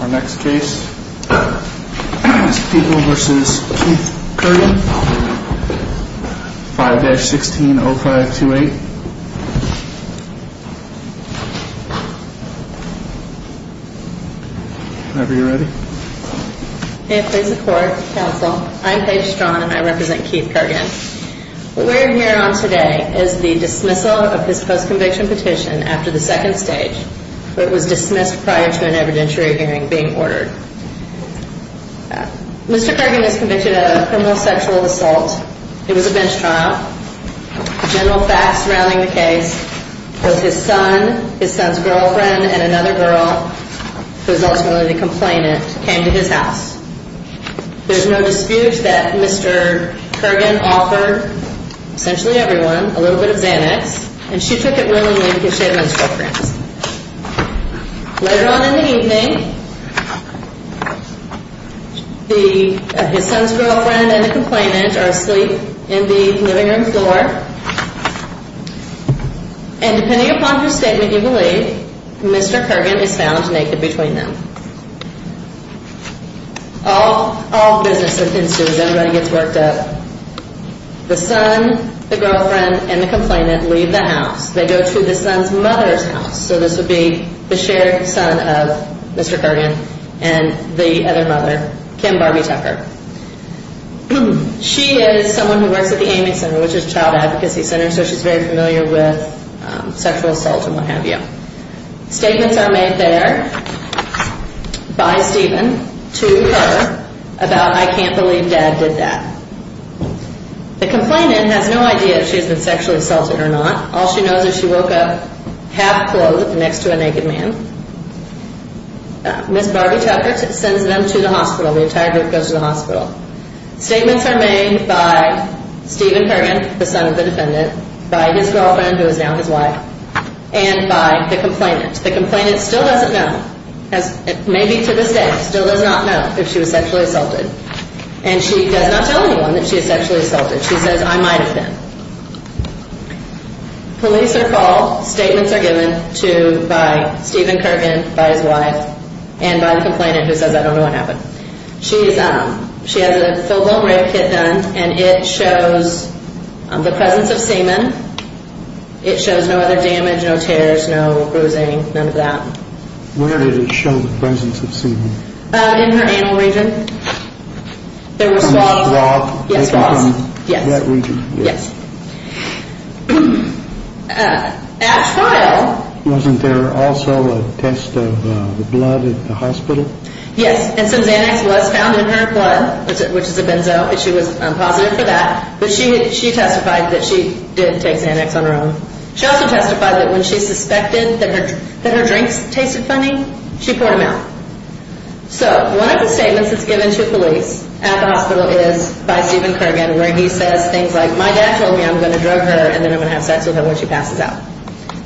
Our next case is Peeble v. Keith Kirgan, 5-160528. Whenever you're ready. May it please the Court, Counsel, I'm Paige Straughn and I represent Keith Kirgan. What we're here on today is the dismissal of his post-conviction petition after the second stage. It was dismissed prior to an evidentiary hearing being ordered. Mr. Kirgan is convicted of a criminal sexual assault. It was a bench trial. The general facts surrounding the case was his son, his son's girlfriend, and another girl, who is ultimately the complainant, came to his house. There's no dispute that Mr. Kirgan offered essentially everyone a little bit of Xanax, and she took it willingly because she had men's girlfriends. Later on in the evening, his son's girlfriend and the complainant are asleep in the living room floor, and depending upon her statement, you believe, Mr. Kirgan is found naked between them. All business ensues. Everybody gets worked up. The son, the girlfriend, and the complainant leave the house. They go to the son's mother's house, so this would be the shared son of Mr. Kirgan and the other mother, Kim Barbie Tucker. She is someone who works at the Amy Center, which is a child advocacy center, so she's very familiar with sexual assault and what have you. Statements are made there by Stephen to her about, I can't believe Dad did that. The complainant has no idea if she's been sexually assaulted or not. All she knows is she woke up half-clothed next to a naked man. Miss Barbie Tucker sends them to the hospital. The entire group goes to the hospital. Statements are made by Stephen Kirgan, the son of the defendant, by his girlfriend, who is now his wife, and by the complainant. The complainant still doesn't know, maybe to this day, still does not know if she was sexually assaulted, and she does not tell anyone that she was sexually assaulted. She says, I might have been. Police are called. Statements are given by Stephen Kirgan, by his wife, and by the complainant, who says, I don't know what happened. She has a fill bone rib kit done, and it shows the presence of semen. It shows no other damage, no tears, no bruising, none of that. Where did it show the presence of semen? In her anal region. There were swaths? Yes, swaths. In that region? Yes. At trial... Wasn't there also a test of the blood at the hospital? Yes, and some Xanax was found in her blood, which is a benzo. She was positive for that, but she testified that she did take Xanax on her own. She also testified that when she suspected that her drinks tasted funny, she poured them out. So, one of the statements that's given to police at the hospital is by Stephen Kirgan, where he says things like, my dad told me I'm going to drug her, and then I'm going to have sex with her when she passes out.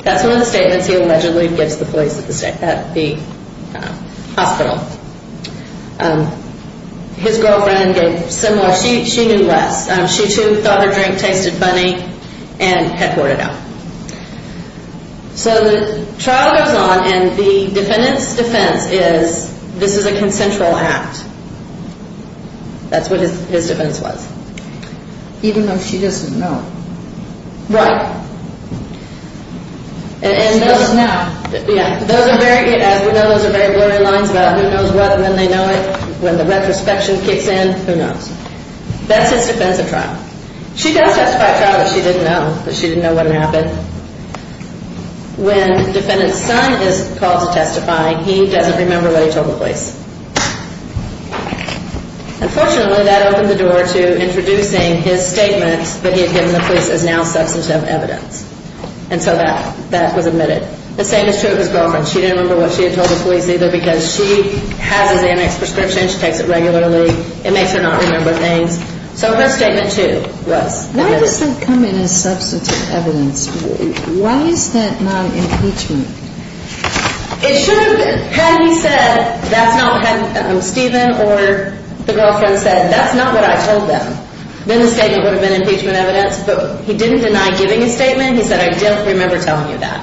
That's one of the statements he allegedly gives the police at the hospital. His girlfriend gave similar. She knew less. She, too, thought her drink tasted funny and had poured it out. So the trial goes on, and the defendant's defense is this is a consensual act. That's what his defense was. Even though she doesn't know. Right. As we know, those are very blurry lines about who knows what and then they know it. When the retrospection kicks in, who knows? That's his defense of trial. She does testify at trial that she didn't know, that she didn't know what had happened. When defendant's son is called to testify, he doesn't remember what he told the police. Unfortunately, that opened the door to introducing his statement that he had given the police as now substantive evidence. And so that was admitted. The same is true of his girlfriend. She didn't remember what she had told the police either because she has his Amex prescription. She takes it regularly. It makes her not remember things. So her statement, too, was admitted. Why does that come in as substantive evidence? Why is that not impeachment? It should have been. Had he said, that's not what, had Stephen or the girlfriend said, that's not what I told them, then the statement would have been impeachment evidence. But he didn't deny giving a statement. He said, I don't remember telling you that.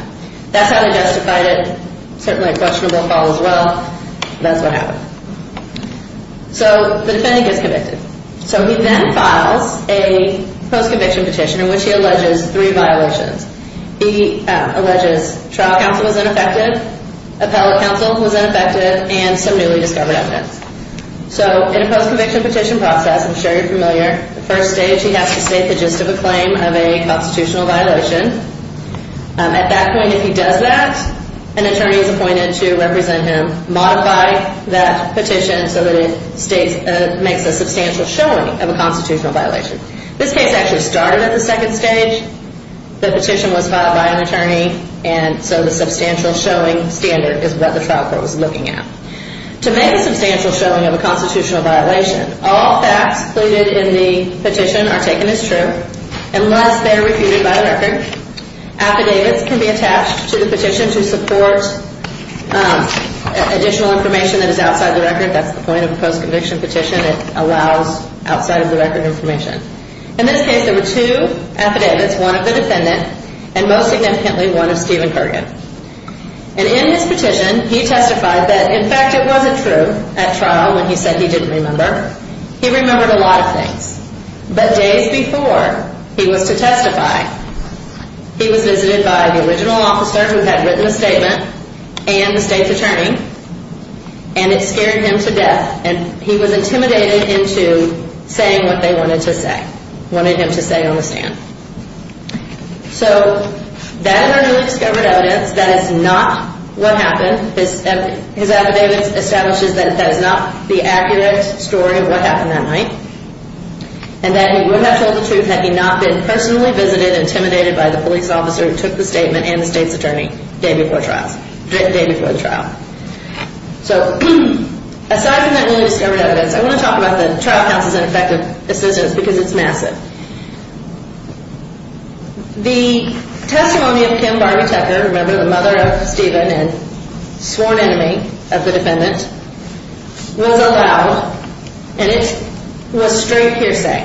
That's how they justified it. Certainly a questionable fall as well. That's what happened. So the defendant gets convicted. So he then files a post-conviction petition in which he alleges three violations. He alleges trial counsel was ineffective, appellate counsel was ineffective, and some newly discovered evidence. So in a post-conviction petition process, I'm sure you're familiar, the first stage he has to state the gist of a claim of a constitutional violation. At that point, if he does that, an attorney is appointed to represent him, modify that petition so that it makes a substantial showing of a constitutional violation. This case actually started at the second stage. The petition was filed by an attorney, and so the substantial showing standard is what the trial court was looking at. To make a substantial showing of a constitutional violation, all facts included in the petition are taken as true unless they are refuted by the record. Affidavits can be attached to the petition to support additional information that is outside the record. That's the point of a post-conviction petition. It allows outside-of-the-record information. In this case, there were two affidavits, one of the defendant and most significantly one of Stephen Kergan. And in his petition, he testified that, in fact, it wasn't true at trial when he said he didn't remember. He remembered a lot of things. But days before he was to testify, he was visited by the original officer who had written a statement and the state's attorney, and it scared him to death. And he was intimidated into saying what they wanted to say, wanted him to say on the stand. So that is our newly discovered evidence. That is not what happened. His affidavit establishes that that is not the accurate story of what happened that night. And that he would not have told the truth had he not been personally visited, intimidated by the police officer who took the statement and the state's attorney the day before the trial. So aside from that newly discovered evidence, I want to talk about the trial counsel's ineffective assistance because it's massive. The testimony of Kim Barbie Tucker, remember, the mother of Stephen and sworn enemy of the defendant, was allowed, and it was straight hearsay.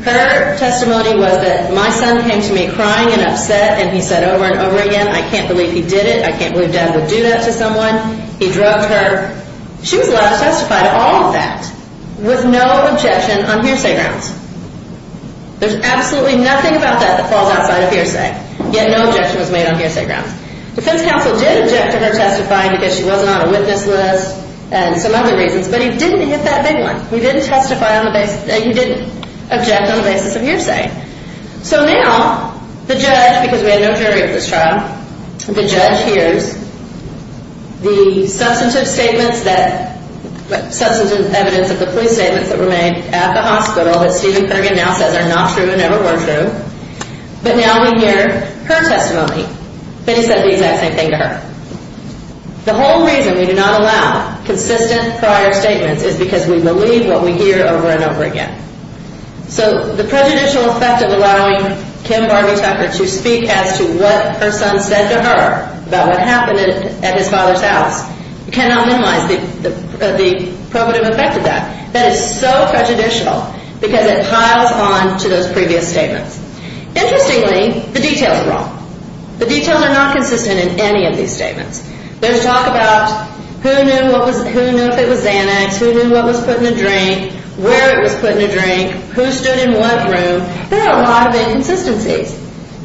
Her testimony was that my son came to me crying and upset, and he said over and over again, I can't believe he did it. I can't believe Dad would do that to someone. He drugged her. She was allowed to testify to all of that with no objection on hearsay grounds. There's absolutely nothing about that that falls outside of hearsay, yet no objection was made on hearsay grounds. Defense counsel did object to her testifying because she wasn't on a witness list and some other reasons, but he didn't hit that big one. He didn't object on the basis of hearsay. So now the judge, because we had no jury at this trial, the judge hears the substantive statements that, substantive evidence of the plea statements that were made at the hospital that Stephen Kerrigan now says are not true and never were true, but now we hear her testimony that he said the exact same thing to her. The whole reason we do not allow consistent prior statements is because we believe what we hear over and over again. So the prejudicial effect of allowing Kim Barbie Tucker to speak as to what her son said to her about what happened at his father's house cannot minimize the probative effect of that. That is so prejudicial because it piles on to those previous statements. Interestingly, the details are wrong. The details are not consistent in any of these statements. There's talk about who knew if it was Xanax, who knew what was put in a drink, where it was put in a drink, who stood in what room. There are a lot of inconsistencies.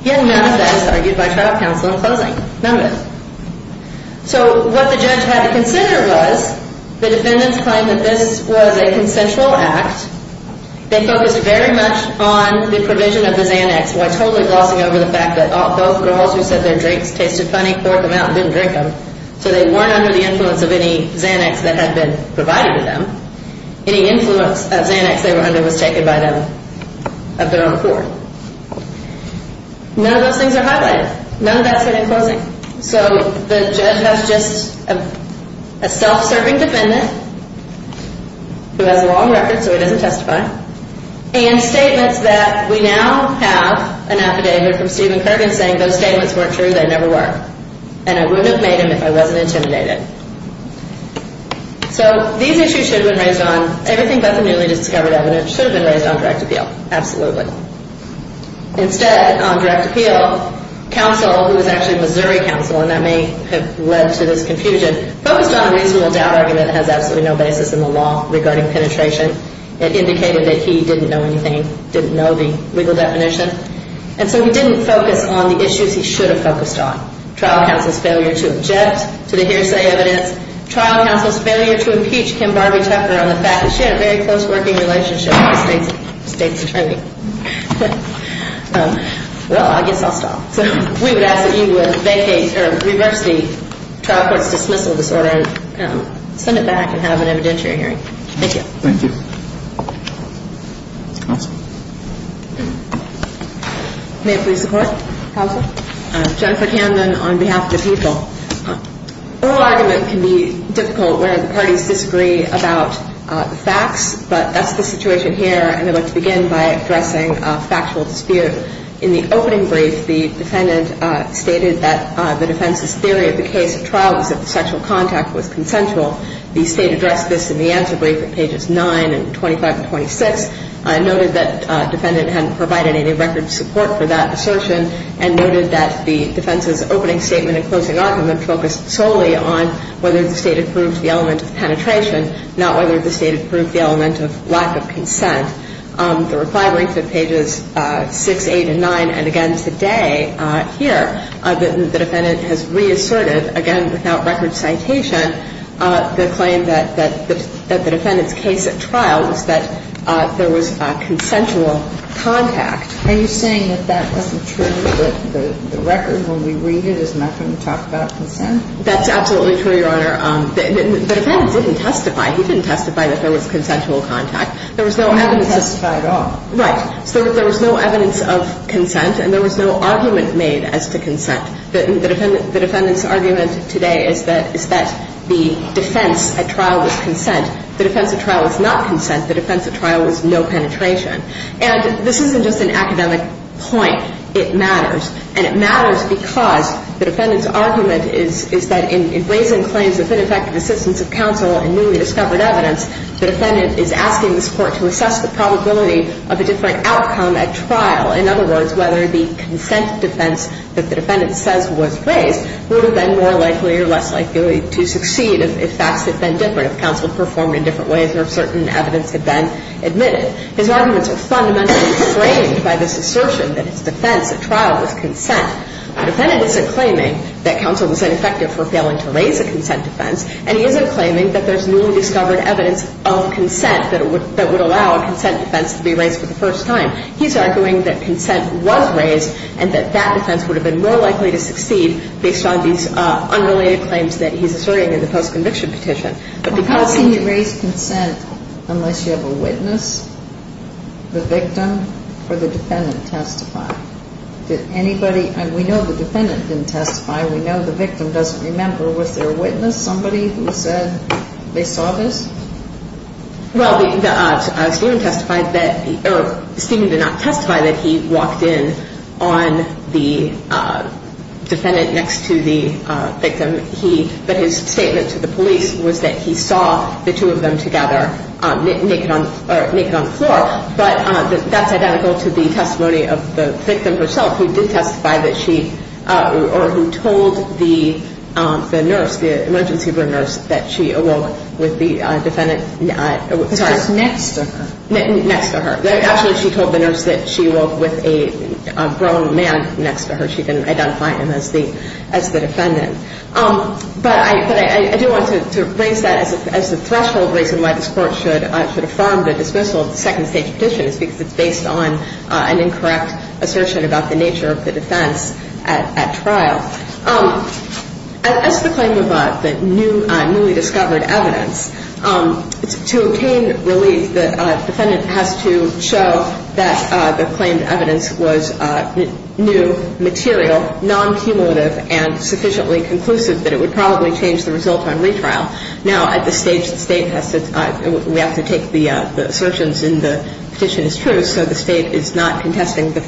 Yet none of that is argued by trial counsel in closing. None of it. So what the judge had to consider was the defendant's claim that this was a consensual act. They focused very much on the provision of the Xanax while totally glossing over the fact that both girls who said their drinks tasted funny poured them out and didn't drink them. So they weren't under the influence of any Xanax that had been provided to them. Any influence of Xanax they were under was taken by them of their own accord. None of those things are highlighted. None of that's said in closing. So the judge has just a self-serving defendant who has a long record so he doesn't testify and statements that we now have an affidavit from Stephen Kergan saying those statements weren't true. They never were. And I wouldn't have made them if I wasn't intimidated. So these issues should have been raised on everything but the newly discovered evidence should have been raised on direct appeal. Absolutely. Instead, on direct appeal, counsel, who was actually Missouri counsel, and that may have led to this confusion, focused on a reasonable doubt argument that has absolutely no basis in the law regarding penetration. It indicated that he didn't know anything, didn't know the legal definition. And so he didn't focus on the issues he should have focused on. Trial counsel's failure to object to the hearsay evidence. Trial counsel's failure to impeach Kim Barbee Tuckner on the fact that she had a very close working relationship with the state's attorney. Well, I guess I'll stop. So we would ask that you would vacate or reverse the trial court's dismissal disorder and send it back and have an evidentiary hearing. Thank you. Thank you. Counsel? May I please report? Counsel? Jennifer Camden on behalf of the people. The whole argument can be difficult where the parties disagree about the facts, but that's the situation here, and I'd like to begin by addressing a factual dispute. In the opening brief, the defendant stated that the defense's theory of the case of trial was that the sexual contact was consensual. The state addressed this in the answer brief at pages 9 and 25 and 26, noted that the defendant hadn't provided any record of support for that assertion and noted that the defense's opening statement and closing argument focused solely on whether the state approved the element of penetration, not whether the state approved the element of lack of consent. The reply brief at pages 6, 8, and 9, and again today here, the defendant has reasserted, again, without record citation, the claim that the defendant's case at trial was that there was consensual contact. Are you saying that that wasn't true, that the record, when we read it, is not going to talk about consent? That's absolutely true, Your Honor. The defendant didn't testify. He didn't testify that there was consensual contact. He didn't testify at all. Right. So there was no evidence of consent, and there was no argument made as to consent. The defendant's argument today is that the defense at trial was consent. The defense at trial was not consent. The defense at trial was no penetration. And this isn't just an academic point. It matters. And it matters because the defendant's argument is that in raising claims of ineffective assistance of counsel in newly discovered evidence, the defendant is asking this Court to assess the probability of a different outcome at trial. In other words, whether the consent defense that the defendant says was raised would have been more likely or less likely to succeed if facts had been different, if counsel performed in different ways or if certain evidence had been admitted. His arguments are fundamentally framed by this assertion that his defense at trial was consent. The defendant isn't claiming that counsel was ineffective for failing to raise a consent defense, and he isn't claiming that there's newly discovered evidence of consent that would allow a consent defense to be raised for the first time. He's arguing that consent was raised and that that defense would have been more likely to succeed based on these unrelated claims that he's asserting in the postconviction petition. But how can you raise consent unless you have a witness, the victim, or the defendant testify? Did anybody – and we know the defendant didn't testify. We know the victim doesn't remember. Was there a witness, somebody who said they saw this? Well, Stephen testified that – or Stephen did not testify that he walked in on the defendant next to the victim. But his statement to the police was that he saw the two of them together naked on the floor. But that's identical to the testimony of the victim herself who did testify that she – or who told the nurse, the emergency room nurse, that she awoke with the defendant – sorry. Because she was next to her. Next to her. Actually, she told the nurse that she awoke with a grown man next to her. She didn't identify him as the defendant. But I do want to raise that as the threshold reason why this Court should affirm the dismissal of the second-stage petition is because it's based on an incorrect assertion about the nature of the defense at trial. As to the claim of the newly discovered evidence, to obtain relief, the defendant has to show that the claimed evidence was new, material, non-cumulative, and sufficiently conclusive that it would probably change the result on retrial. Now, at this stage, the State has to – we have to take the assertions in the petition as true, so the State is not contesting the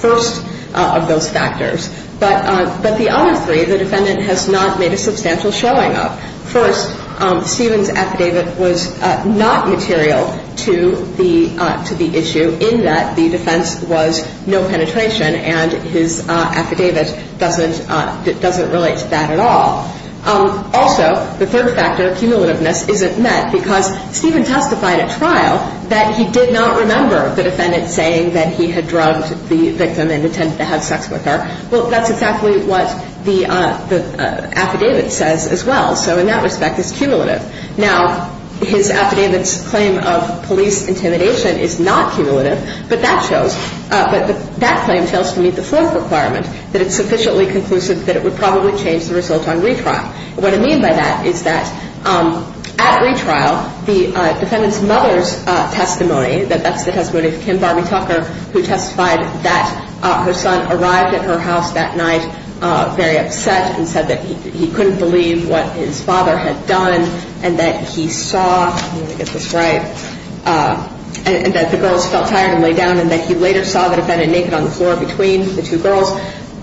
first of those factors. But the other three, the defendant has not made a substantial showing of. First, Stephen's affidavit was not material to the issue in that the defense was no penetration and his affidavit doesn't relate to that at all. Also, the third factor, cumulativeness, isn't met because Stephen testified at trial that he did not remember the defendant saying that he had drugged the victim and intended to have sex with her. Well, that's exactly what the affidavit says as well. So in that respect, it's cumulative. Now, his affidavit's claim of police intimidation is not cumulative, but that shows – but that claim fails to meet the fourth requirement, that it's sufficiently conclusive that it would probably change the result on retrial. What I mean by that is that at retrial, the defendant's mother's testimony, that that's the testimony of Kim Barbie Tucker, who testified that her son arrived at her house that night very upset and said that he couldn't believe what his father had done, and that he saw – let me get this right – and that the girls felt tired and lay down, and that he later saw the defendant naked on the floor between the two girls,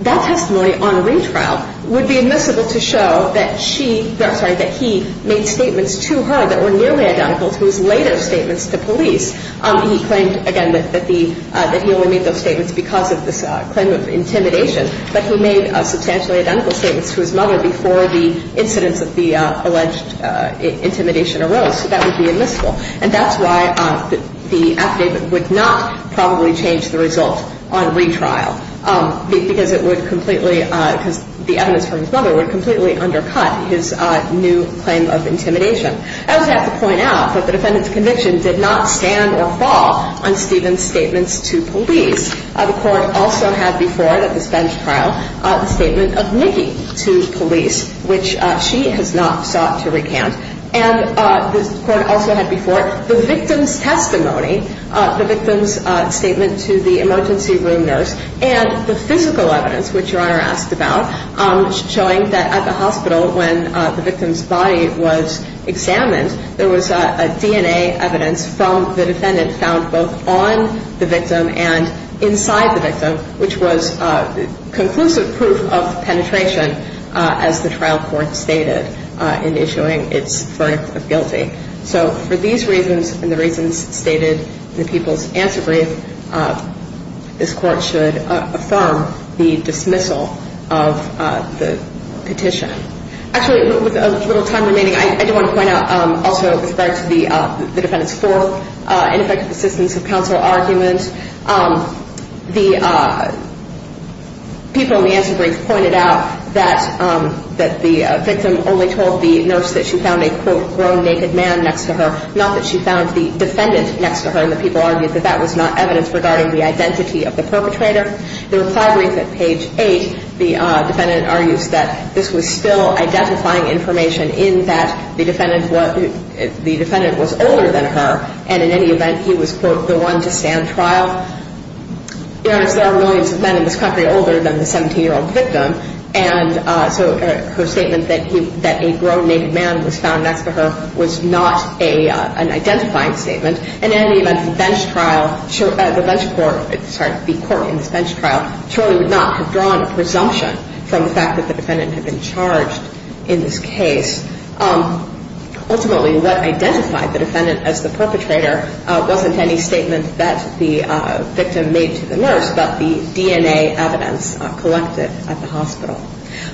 that testimony on retrial would be admissible to show that she – I'm sorry, that he made statements to her that were nearly identical to his later statements to police. He claimed, again, that he only made those statements because of this claim of intimidation, but he made substantially identical statements to his mother before the incidence of the alleged intimidation arose. So that would be admissible. And that's why the affidavit would not probably change the result on retrial, because it would completely – because the evidence for his mother would completely undercut his new claim of intimidation. I also have to point out that the defendant's conviction did not stand or fall on Stephen's statements to police. The Court also had before it at this bench trial the statement of Nikki to police, which she has not sought to recant. And the Court also had before it the victim's testimony, the victim's statement to the emergency room nurse, and the physical evidence, which Your Honor asked about, showing that at the hospital when the victim's body was examined, there was a DNA evidence from the defendant found both on the victim and inside the victim, which was conclusive proof of penetration, as the trial court stated in issuing its verdict of guilty. So for these reasons and the reasons stated in the people's answer brief, this Court should affirm the dismissal of the petition. Actually, with a little time remaining, I do want to point out also with regard to the defendant's fourth ineffective assistance of counsel argument. The people in the answer brief pointed out that the victim only told the nurse that she found a, quote, grown naked man next to her, not that she found the defendant next to her. And the people argued that that was not evidence regarding the identity of the perpetrator. The reply brief at page 8, the defendant argues that this was still identifying information in that the defendant was older than her, and in any event, he was, quote, the one to stand trial. Your Honor, there are millions of men in this country older than the 17-year-old victim, and so her statement that a grown naked man was found next to her was not an identifying statement. And in any event, the bench trial, the bench court, sorry, the court in this bench trial surely would not have drawn a presumption from the fact that the defendant had been charged in this case. Ultimately, what identified the defendant as the perpetrator wasn't any statement that the victim made to the nurse, but the DNA evidence collected at the hospital.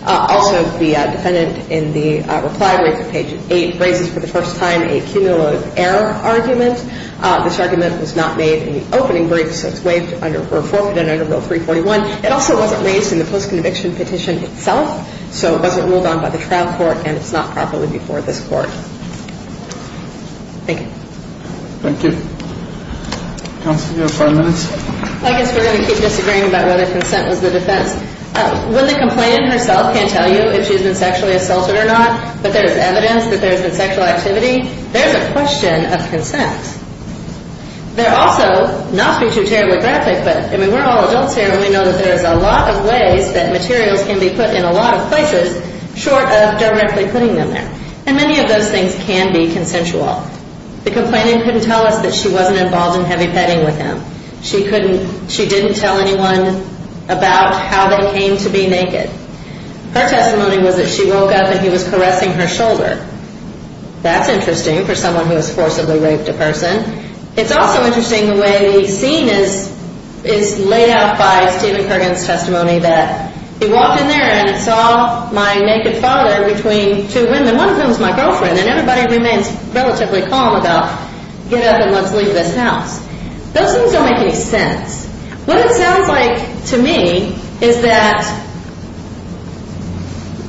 Also, the defendant in the reply brief at page 8 raises for the first time a cumulative error argument. This argument was not made in the opening brief, so it's waived or forfeited under Rule 341. It also wasn't raised in the post-conviction petition itself, so it wasn't ruled on by the trial court, and it's not properly before this court. Thank you. Thank you. Counsel, you have five minutes. I guess we're going to keep disagreeing about whether consent was the defense. When the complainant herself can't tell you if she's been sexually assaulted or not, but there's evidence that there's been sexual activity, there's a question of consent. There also, not to be too telegraphic, but, I mean, we're all adults here, and we know that there's a lot of ways that materials can be put in a lot of places short of directly putting them there, and many of those things can be consensual. The complainant couldn't tell us that she wasn't involved in heavy petting with him. She didn't tell anyone about how they came to be naked. Her testimony was that she woke up and he was caressing her shoulder. That's interesting for someone who has forcibly raped a person. It's also interesting the way the scene is laid out by Stephen Kerrigan's testimony that he walked in there and saw my naked father between two women. One of them is my girlfriend, and everybody remains relatively calm about get up and let's leave this house. Those things don't make any sense. What it sounds like to me is that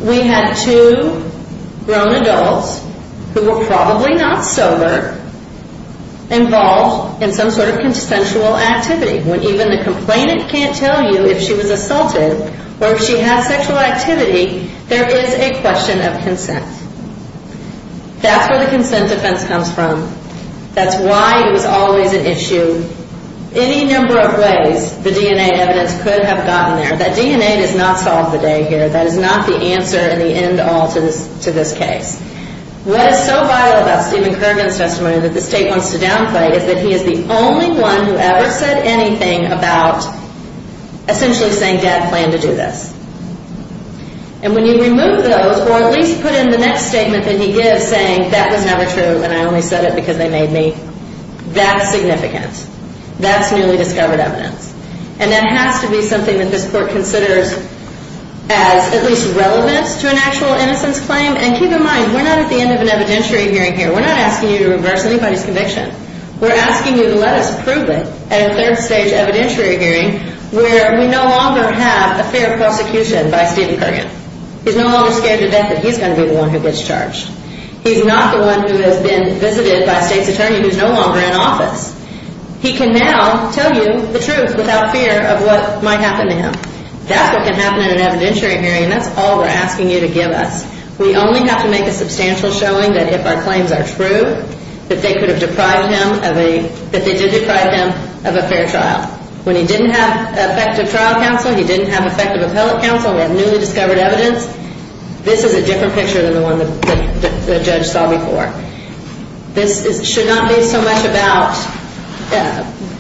we had two grown adults who were probably not sober involved in some sort of consensual activity. When even the complainant can't tell you if she was assaulted or if she has sexual activity, there is a question of consent. That's where the consent defense comes from. That's why it was always an issue. In any number of ways, the DNA evidence could have gotten there. That DNA does not solve the day here. That is not the answer in the end all to this case. What is so vital about Stephen Kerrigan's testimony that the state wants to downplay is that he is the only one who ever said anything about essentially saying, Dad planned to do this. When you remove those or at least put in the next statement that he gives saying, that was never true and I only said it because they made me, that's significant. That's newly discovered evidence. And that has to be something that this court considers as at least relevant to an actual innocence claim. And keep in mind, we're not at the end of an evidentiary hearing here. We're not asking you to reverse anybody's conviction. We're asking you to let us prove it at a third stage evidentiary hearing where we no longer have a fair prosecution by Stephen Kerrigan. He's no longer scared to death that he's going to be the one who gets charged. He's not the one who has been visited by a state's attorney who's no longer in office. He can now tell you the truth without fear of what might happen to him. That's what can happen in an evidentiary hearing, and that's all we're asking you to give us. We only have to make a substantial showing that if our claims are true, that they could have deprived him of a, that they did deprive him of a fair trial. When he didn't have effective trial counsel, he didn't have effective appellate counsel, we have newly discovered evidence. This is a different picture than the one the judge saw before. This should not be so much about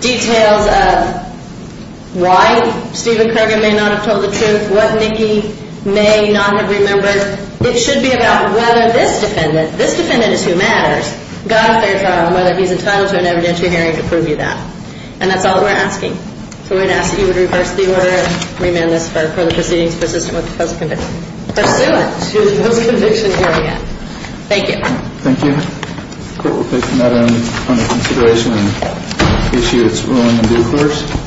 details of why Stephen Kerrigan may not have told the truth, what Nikki may not have remembered. It should be about whether this defendant, this defendant is who matters, got a fair trial and whether he's entitled to an evidentiary hearing to prove you that. And that's all we're asking. So we're going to ask that you would reverse the order and remand this for the proceedings persistent with the post-conviction. Pursuant to the post-conviction hearing end. Thank you. Thank you. The court will take that into consideration on the issue that's ruling in due course.